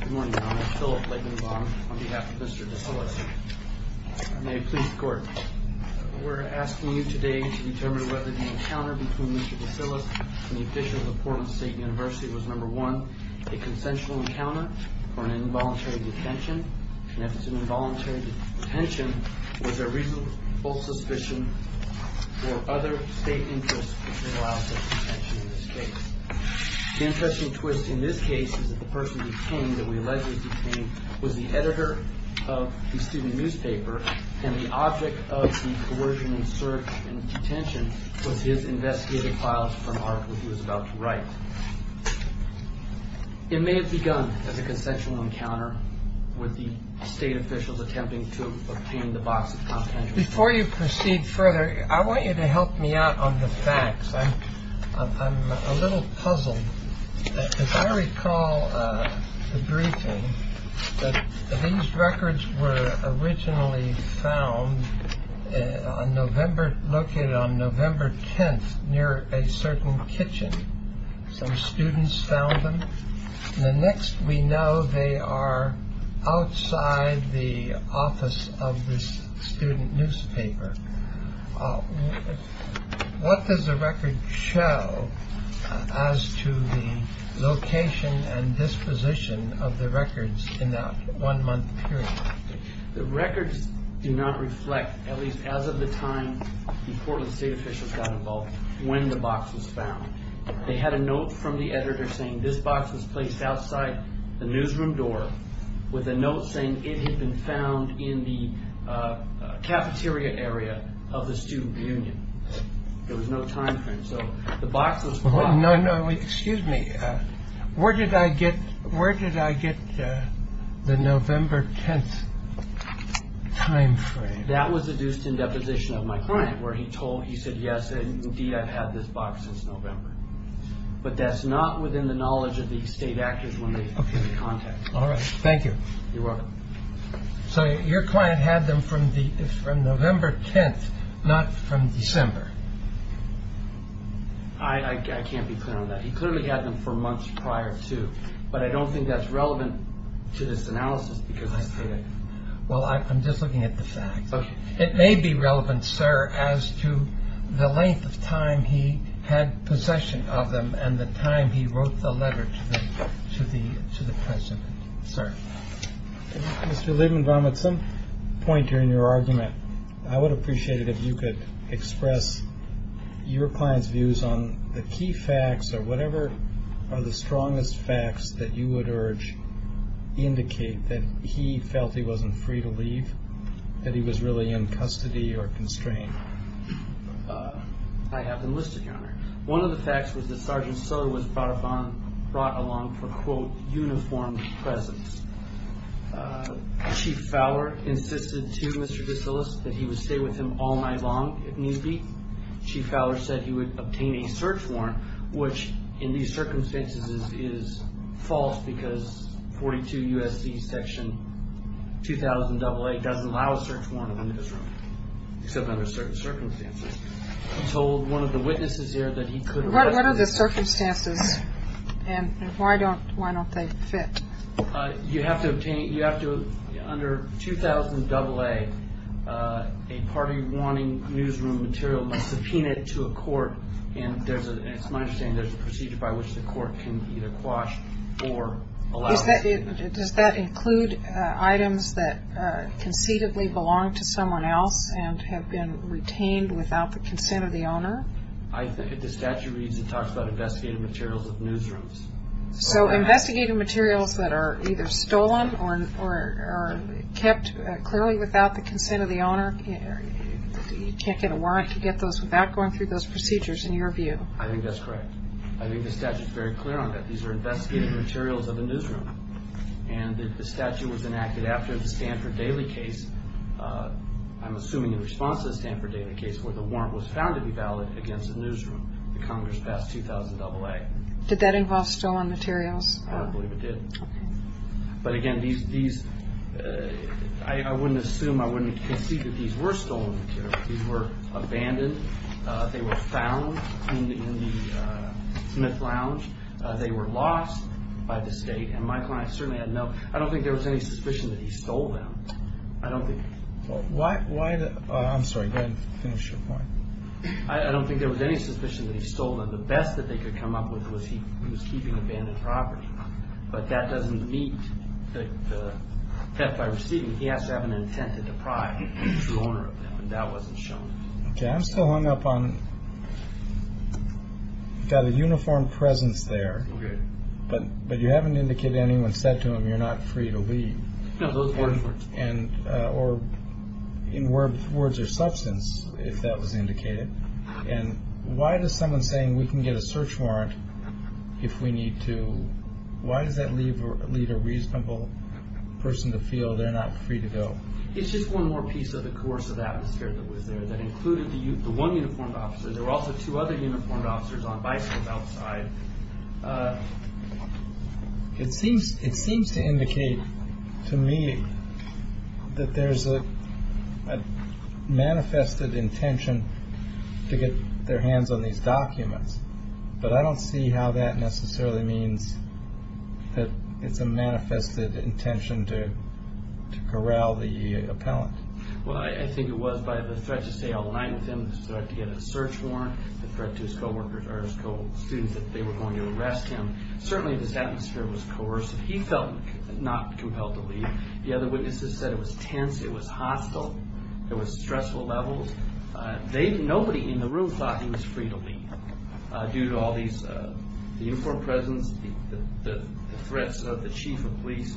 Good morning, Your Honor. Philip Leggenbaum on behalf of Mr. DeSyllas. May it please the Court. We're asking you today to determine whether the encounter between Mr. DeSyllas and the official of Portland State University was, number one, a consensual encounter or an involuntary detention. And if it's an involuntary detention, was there reasonable suspicion or other state interests which would allow such detention in this case? The interesting twist in this case is that the person detained, that we allegedly detained, was the editor of the student newspaper, and the object of the coercion and search and detention was his investigative files for an article he was about to write. It may have begun as a consensual encounter with the state officials attempting to obtain the box of confidentiality. Before you proceed further, I want you to help me out on the facts. I'm a little puzzled. If I recall the briefing, these records were originally found on November 10th near a certain kitchen. Some students found them. The next we know they are outside the office of this student newspaper. What does the record show as to the location and disposition of the records in that one-month period? The records do not reflect, at least as of the time the Portland state officials got involved, when the box was found. They had a note from the editor saying this box was placed outside the newsroom door, with a note saying it had been found in the cafeteria area of the student union. There was no time frame. No, no, excuse me. Where did I get the November 10th time frame? That was deduced in deposition of my client, where he said, yes, indeed, I've had this box since November. But that's not within the knowledge of the state actors when they give the contact. All right. Thank you. You're welcome. So your client had them from the from November 10th, not from December. I can't be clear on that. He clearly had them for months prior to. But I don't think that's relevant to this analysis because. Well, I'm just looking at the fact that it may be relevant, sir, as to the length of time he had possession of them and the time he wrote the letter to the to the to the president. Sir. Mr. Lieberman, with some point during your argument, I would appreciate it if you could express your client's views on the key facts or whatever are the strongest facts that you would urge indicate that he felt he wasn't free to leave, that he was really in custody or constrained. I have them listed. One of the facts was the sergeant. So was brought upon, brought along for, quote, uniform presence. Chief Fowler insisted to Mr. D'Souza that he would stay with him all night long. If need be. Chief Fowler said he would obtain a search warrant, which in these circumstances is false, because 42 U.S.C. section 2000 doesn't allow a search warrant in his room. Except under certain circumstances. He told one of the witnesses here that he could. What are the circumstances and why don't why don't they fit? You have to obtain it. You have to. Under 2000 AA, a party warning newsroom material must subpoena it to a court. And there's a. It's my understanding there's a procedure by which the court can either quash or allow. Does that include items that conceivably belong to someone else and have been retained without the consent of the owner? If the statute reads, it talks about investigative materials of newsrooms. So investigative materials that are either stolen or kept clearly without the consent of the owner, you can't get a warrant to get those without going through those procedures, in your view. I think that's correct. I think the statute is very clear on that. These are investigative materials of a newsroom. And the statute was enacted after the Stanford Daily case. I'm assuming in response to the Stanford Daily case, where the warrant was found to be valid against a newsroom. The Congress passed 2000 AA. Did that involve stolen materials? I believe it did. But again, these, I wouldn't assume, I wouldn't concede that these were stolen materials. These were abandoned. They were found in the Smith Lounge. They were lost by the state. And my client certainly had no, I don't think there was any suspicion that he stole them. I don't think. I'm sorry. Go ahead and finish your point. I don't think there was any suspicion that he stole them. The best that they could come up with was he was keeping abandoned property. But that doesn't meet the theft I received. He has to have an intent to deprive the true owner of them. And that wasn't shown. I'm still hung up on the uniform presence there. But but you haven't indicated anyone said to him, you're not free to leave. And or in words, words or substance, if that was indicated. And why does someone saying we can get a search warrant if we need to? Why does that leave or lead a reasonable person to feel they're not free to go? It's just one more piece of the course of the atmosphere that was there that included the one uniformed officer. There were also two other uniformed officers on bicycles outside. It seems it seems to indicate to me that there's a manifested intention to get their hands on these documents. But I don't see how that necessarily means that it's a manifested intention to corral the appellant. Well, I think it was by the threat to say a line with him to get a search warrant. The threat to his co-workers are his co-students that they were going to arrest him. Certainly, this atmosphere was coercive. He felt not compelled to leave. The other witnesses said it was tense. It was hostile. It was stressful levels. Nobody in the room thought he was free to leave due to all these uniformed presence, the threats of the chief of police.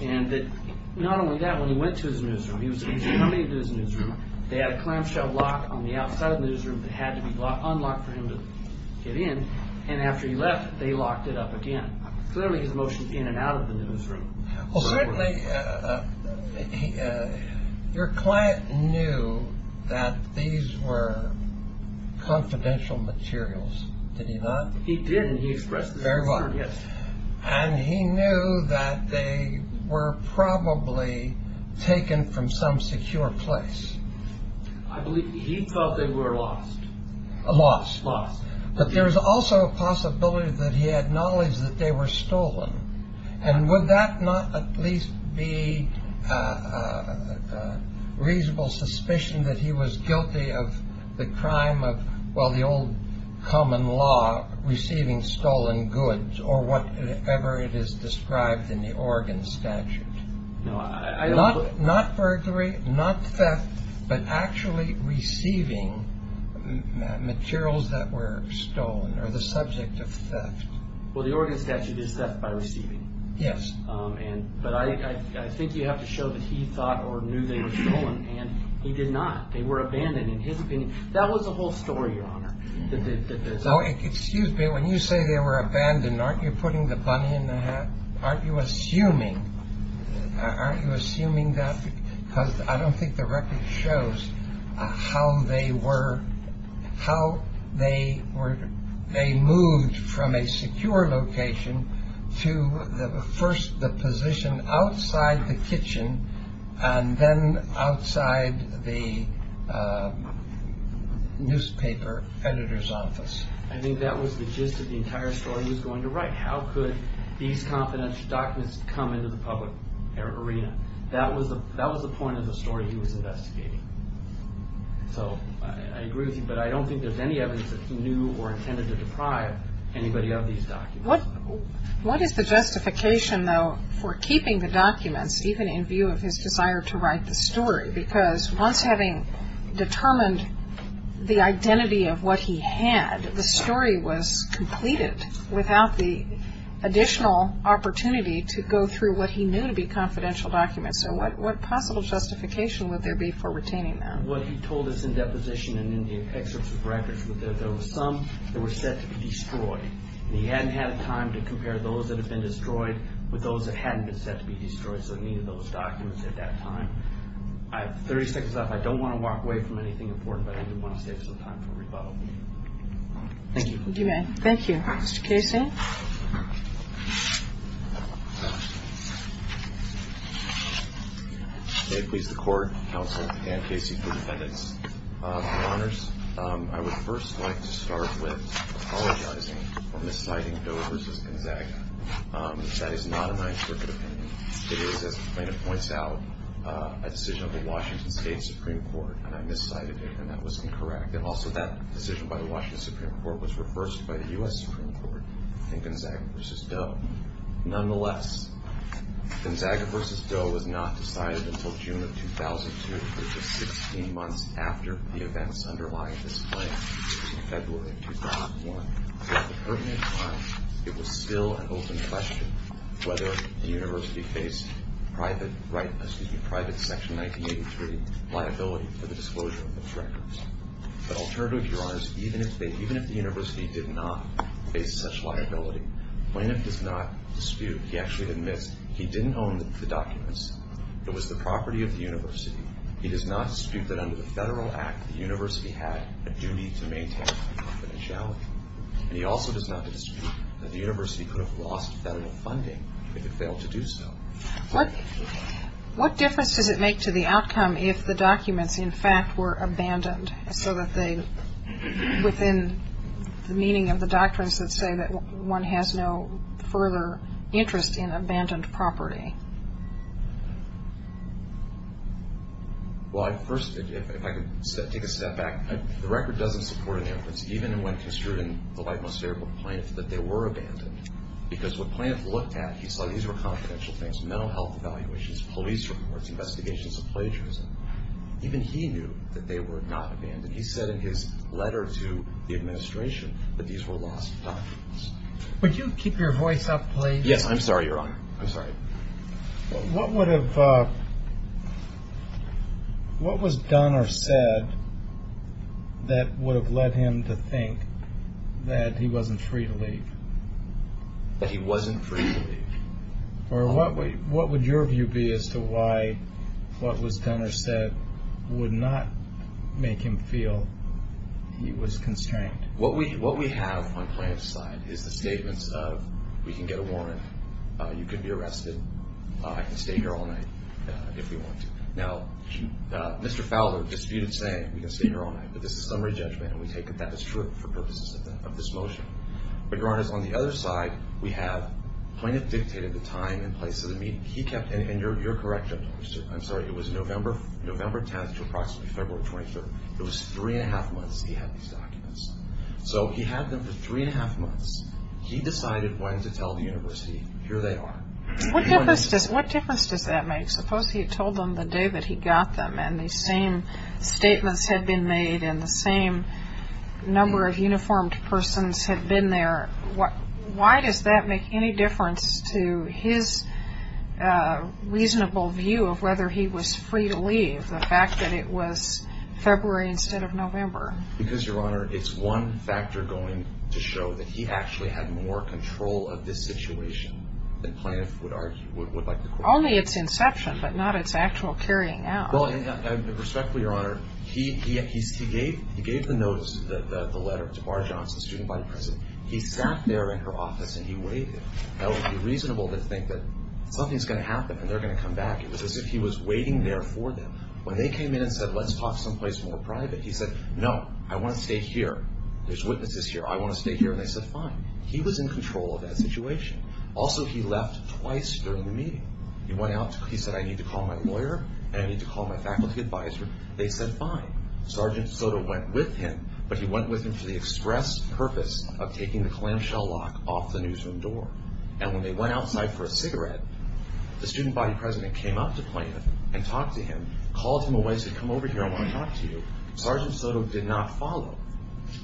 And not only that, when he went to his newsroom, he was coming to his newsroom. They had a clamshell lock on the outside of the newsroom that had to be unlocked for him to get in. And after he left, they locked it up again. Clearly, his motions in and out of the newsroom. Well, certainly, your client knew that these were confidential materials. Did he not? He did, and he expressed his concern, yes. And he knew that they were probably taken from some secure place. I believe he thought they were lost. Lost. Lost. But there was also a possibility that he had knowledge that they were stolen. And would that not at least be a reasonable suspicion that he was guilty of the crime of, well, the old common law, receiving stolen goods or whatever it is described in the Oregon statute? No. Not burglary, not theft, but actually receiving materials that were stolen or the subject of theft. Well, the Oregon statute is theft by receiving. Yes. But I think you have to show that he thought or knew they were stolen, and he did not. They were abandoned, in his opinion. That was the whole story, Your Honor. Excuse me. When you say they were abandoned, aren't you putting the bunny in the hat? Aren't you assuming that because I don't think the record shows how they moved from a secure location to first the position outside the kitchen and then outside the newspaper editor's office. I think that was the gist of the entire story he was going to write. How could these confidential documents come into the public arena? That was the point of the story he was investigating. So I agree with you, but I don't think there's any evidence that he knew or intended to deprive anybody of these documents. What is the justification, though, for keeping the documents, even in view of his desire to write the story? Because once having determined the identity of what he had, the story was completed without the additional opportunity to go through what he knew to be confidential documents. So what possible justification would there be for retaining them? Well, he told us in deposition and in the excerpts of records that there were some that were set to be destroyed, and he hadn't had time to compare those that had been destroyed with those that hadn't been set to be destroyed, so he needed those documents at that time. I have 30 seconds left. I don't want to walk away from anything important, but I do want to save some time for rebuttal. Thank you. Thank you, Matt. Thank you. Mr. Casey? May it please the Court, Counsel, and Casey for defendants, for honors. I would first like to start with apologizing for misciting Doe versus Gonzaga. That is not an interpreted opinion. It is, as the plaintiff points out, a decision of the Washington State Supreme Court, and I miscited it, and that was incorrect. And also that decision by the Washington Supreme Court was reversed by the U.S. Supreme Court in Gonzaga versus Doe. Nonetheless, Gonzaga versus Doe was not decided until June of 2002, which is 16 months after the events underlying this claim. It was in February of 2001. At the pertinent time, it was still an open question whether the university faced private Section 1983 liability for the disclosure of those records. But alternatively, your honors, even if the university did not face such liability, the plaintiff does not dispute. He actually admits he didn't own the documents. He does not dispute that under the federal act, the university had a duty to maintain confidentiality. And he also does not dispute that the university could have lost federal funding if it failed to do so. What difference does it make to the outcome if the documents, in fact, were abandoned, so that they, within the meaning of the doctrines that say that one has no further interest in abandoned property? Well, I first, if I could take a step back, the record doesn't support an inference, even when construed in the light most favorable to the plaintiff, that they were abandoned. Because what the plaintiff looked at, he saw these were confidential things. Mental health evaluations, police reports, investigations of plagiarism. Even he knew that they were not abandoned. He said in his letter to the administration that these were lost documents. Would you keep your voice up, please? Yes, I'm sorry, your honor. I'm sorry. What would have, what was done or said that would have led him to think that he wasn't free to leave? That he wasn't free to leave. Or what would your view be as to why what was done or said would not make him feel he was constrained? What we have on plaintiff's side is the statements of we can get a warrant, you can be arrested, I can stay here all night if we want to. Now, Mr. Fowler disputed saying we can stay here all night, but this is summary judgment, and we take that as true for purposes of this motion. But your honor, on the other side, we have plaintiff dictated the time and place of the meeting. He kept, and you're correct, I'm sorry, it was November 10th to approximately February 23rd. It was three and a half months he had these documents. So he had them for three and a half months. He decided when to tell the university, here they are. What difference does that make? Suppose he had told them the day that he got them, and the same statements had been made, and the same number of uniformed persons had been there. Why does that make any difference to his reasonable view of whether he was free to leave, the fact that it was February instead of November? Because, your honor, it's one factor going to show that he actually had more control of this situation than plaintiff would like to quote. Only its inception, but not its actual carrying out. Well, respectfully, your honor, he gave the notice, the letter to Bar Johnson, student body president. He sat there in her office and he waited. That would be reasonable to think that something's going to happen and they're going to come back. It was as if he was waiting there for them. When they came in and said, let's talk someplace more private, he said, no, I want to stay here. There's witnesses here. I want to stay here. And they said, fine. He was in control of that situation. Also, he left twice during the meeting. He went out, he said, I need to call my lawyer and I need to call my faculty advisor. They said, fine. Sergeant Soto went with him, but he went with him for the express purpose of taking the clamshell lock off the newsroom door. And when they went outside for a cigarette, the student body president came up to Plaintiff and talked to him, called him away, said, come over here, I want to talk to you. Sergeant Soto did not follow.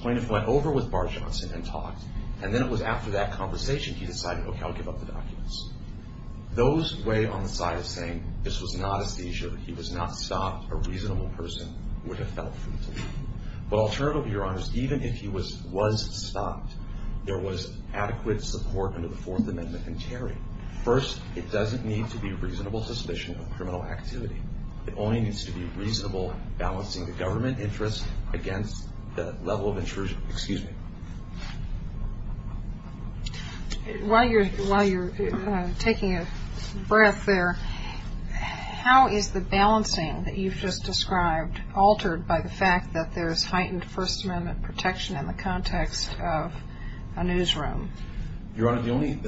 Plaintiff went over with Bar Johnson and talked. And then it was after that conversation he decided, okay, I'll give up the documents. Those way on the side of saying this was not a seizure, he was not stopped, a reasonable person would have felt free to leave. But alternatively, Your Honors, even if he was stopped, there was adequate support under the Fourth Amendment in Terry. First, it doesn't need to be reasonable suspicion of criminal activity. It only needs to be reasonable balancing the government interest against the level of intrusion. Excuse me. While you're taking a breath there, how is the balancing that you've just described altered by the fact that there is heightened First Amendment protection in the context of a newsroom? Your Honor, the only –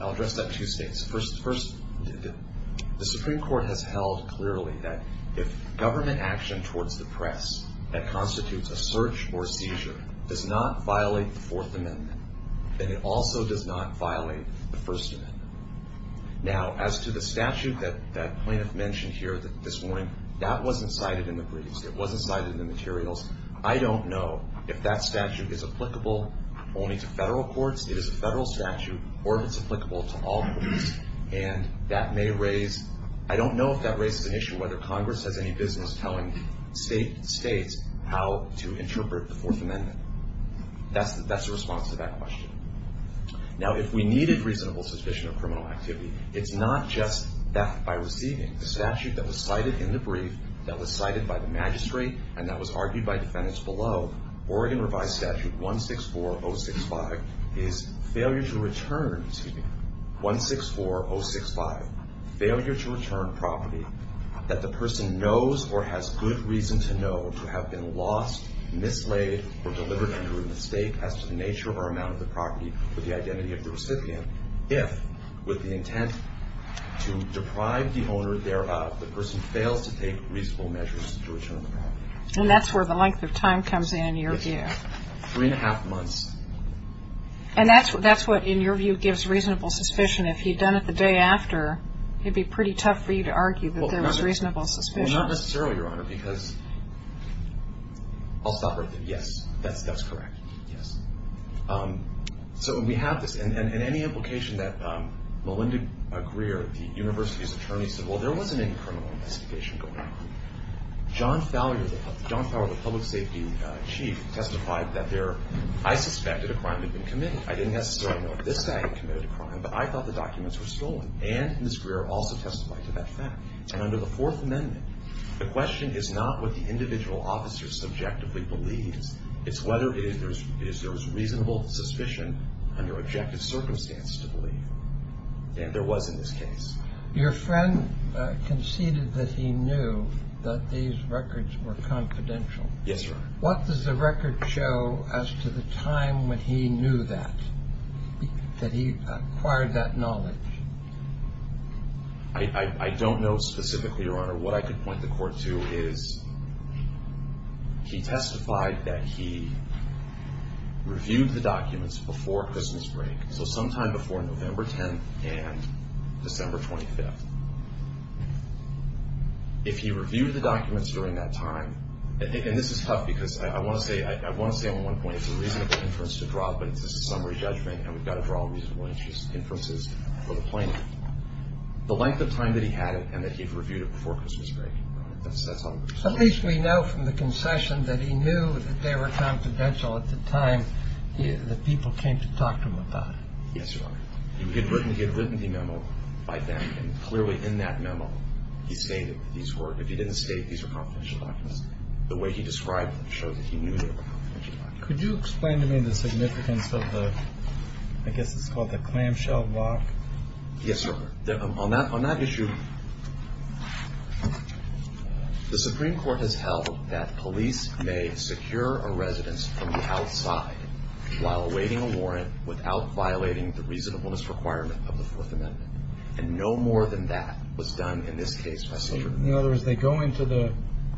I'll address that two states. First, the Supreme Court has held clearly that if government action towards the press that constitutes a search or a seizure does not violate the Fourth Amendment, then it also does not violate the First Amendment. Now, as to the statute that plaintiff mentioned here this morning, that wasn't cited in the briefs. It wasn't cited in the materials. I don't know if that statute is applicable only to federal courts, it is a federal statute, or if it's applicable to all courts. And that may raise – I don't know if that raises an issue whether Congress has any business telling states how to interpret the Fourth Amendment. That's the response to that question. Now, if we needed reasonable suspicion of criminal activity, it's not just theft by receiving. The statute that was cited in the brief, that was cited by the magistrate, and that was argued by defendants below, Oregon Revised Statute 164065, is failure to return – excuse me – 164065, failure to return property that the person knows or has good reason to know to have been lost, mislaid, or delivered under a mistake as to the nature or amount of the property with the identity of the recipient if, with the intent to deprive the owner thereof, the person fails to take reasonable measures to return the property. And that's where the length of time comes in, in your view. Three and a half months. And that's what, in your view, gives reasonable suspicion. If he'd done it the day after, it would be pretty tough for you to argue that there was reasonable suspicion. Well, not necessarily, Your Honor, because – I'll stop right there. Yes, that's correct. Yes. So we have this, and any implication that Melinda Greer, the university's attorney, said, well, there wasn't any criminal investigation going on. John Fowler, the public safety chief, testified that there – I suspected a crime had been committed. I didn't necessarily know if this guy had committed a crime, but I thought the documents were stolen. And Ms. Greer also testified to that fact. And under the Fourth Amendment, the question is not what the individual officer subjectively believes. It's whether there was reasonable suspicion under objective circumstances to believe. And there was in this case. Your friend conceded that he knew that these records were confidential. Yes, Your Honor. What does the record show as to the time when he knew that, that he acquired that knowledge? I don't know specifically, Your Honor. What I could point the court to is he testified that he reviewed the documents before Christmas break, so sometime before November 10th and December 25th. If he reviewed the documents during that time – and this is tough, because I want to say on one point, it's a reasonable inference to draw, but it's a summary judgment, and we've got to draw reasonable inferences for the plaintiff – the length of time that he had it and that he reviewed it before Christmas break. That's all I'm going to say. At least we know from the concession that he knew that they were confidential at the time that people came to talk to him about it. Yes, Your Honor. He had written the memo by then, and clearly in that memo he stated that these were – if he didn't state these were confidential documents, the way he described them showed that he knew they were confidential documents. Could you explain to me the significance of the – I guess it's called the clamshell block? Yes, Your Honor. On that issue, the Supreme Court has held that police may secure a residence from the outside while awaiting a warrant without violating the reasonableness requirement of the Fourth Amendment, and no more than that was done in this case by Southerner. In other words, they go into the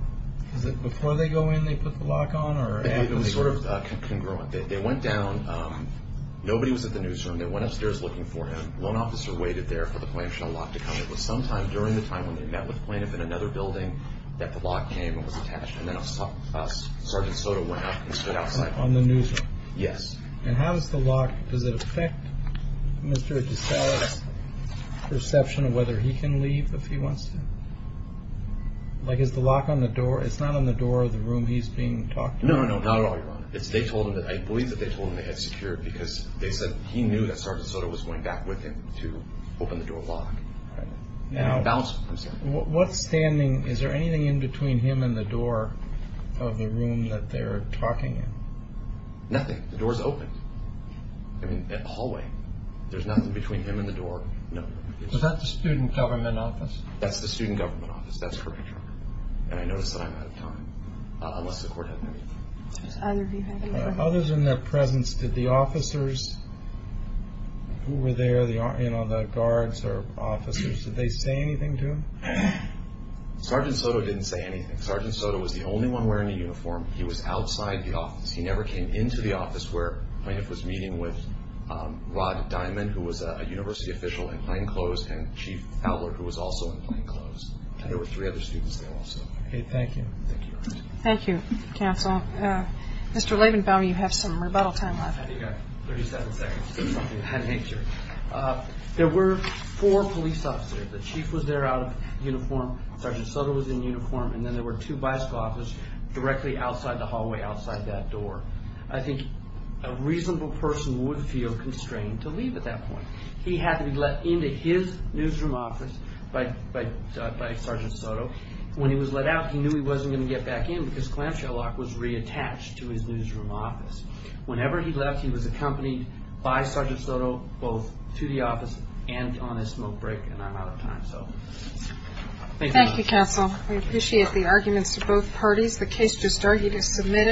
– is it before they go in they put the lock on or after they go in? It was sort of congruent. They went down. Nobody was at the newsroom. They went upstairs looking for him. One officer waited there for the clamshell lock to come. It was sometime during the time when they met with the plaintiff in another building that the lock came and was attached, and then Sergeant Soto went up and stood outside. On the newsroom? Yes. And how does the lock – does it affect Mr. DeSalle's perception of whether he can leave if he wants to? Like, is the lock on the door? It's not on the door of the room he's being talked to? No, no, not at all, Your Honor. They told him that – I believe that they told him they had secured because they said he knew that Sergeant Soto was going back with him to open the door lock. All right. Now – Bounce, I'm saying. What standing – is there anything in between him and the door of the room that they're talking in? Nothing. The door's open. I mean, at the hallway. There's nothing between him and the door. No. Is that the student government office? That's the student government office. That's correct, Your Honor. And I notice that I'm out of time, unless the court had anything. Others in their presence, did the officers who were there, you know, the guards or officers, did they say anything to him? Sergeant Soto didn't say anything. Sergeant Soto was the only one wearing a uniform. He was outside the office. He never came into the office where plaintiff was meeting with Rod Diamond, who was a university official in plainclothes, and Chief Fowler, who was also in plainclothes. And there were three other students there also. Okay. Thank you. Thank you, Your Honor. Thank you, counsel. Mr. Levenbaum, you have some rebuttal time left. I think I have 37 seconds. There were four police officers. The chief was there out of uniform, Sergeant Soto was in uniform, and then there were two bicycle officers directly outside the hallway, outside that door. I think a reasonable person would feel constrained to leave at that point. He had to be let into his newsroom office by Sergeant Soto. When he was let out, he knew he wasn't going to get back in because clamshell lock was reattached to his newsroom office. Whenever he left, he was accompanied by Sergeant Soto both to the office and on his smoke break, and I'm out of time. So thank you, Your Honor. Thank you, counsel. We appreciate the arguments of both parties. The case just argued is submitted.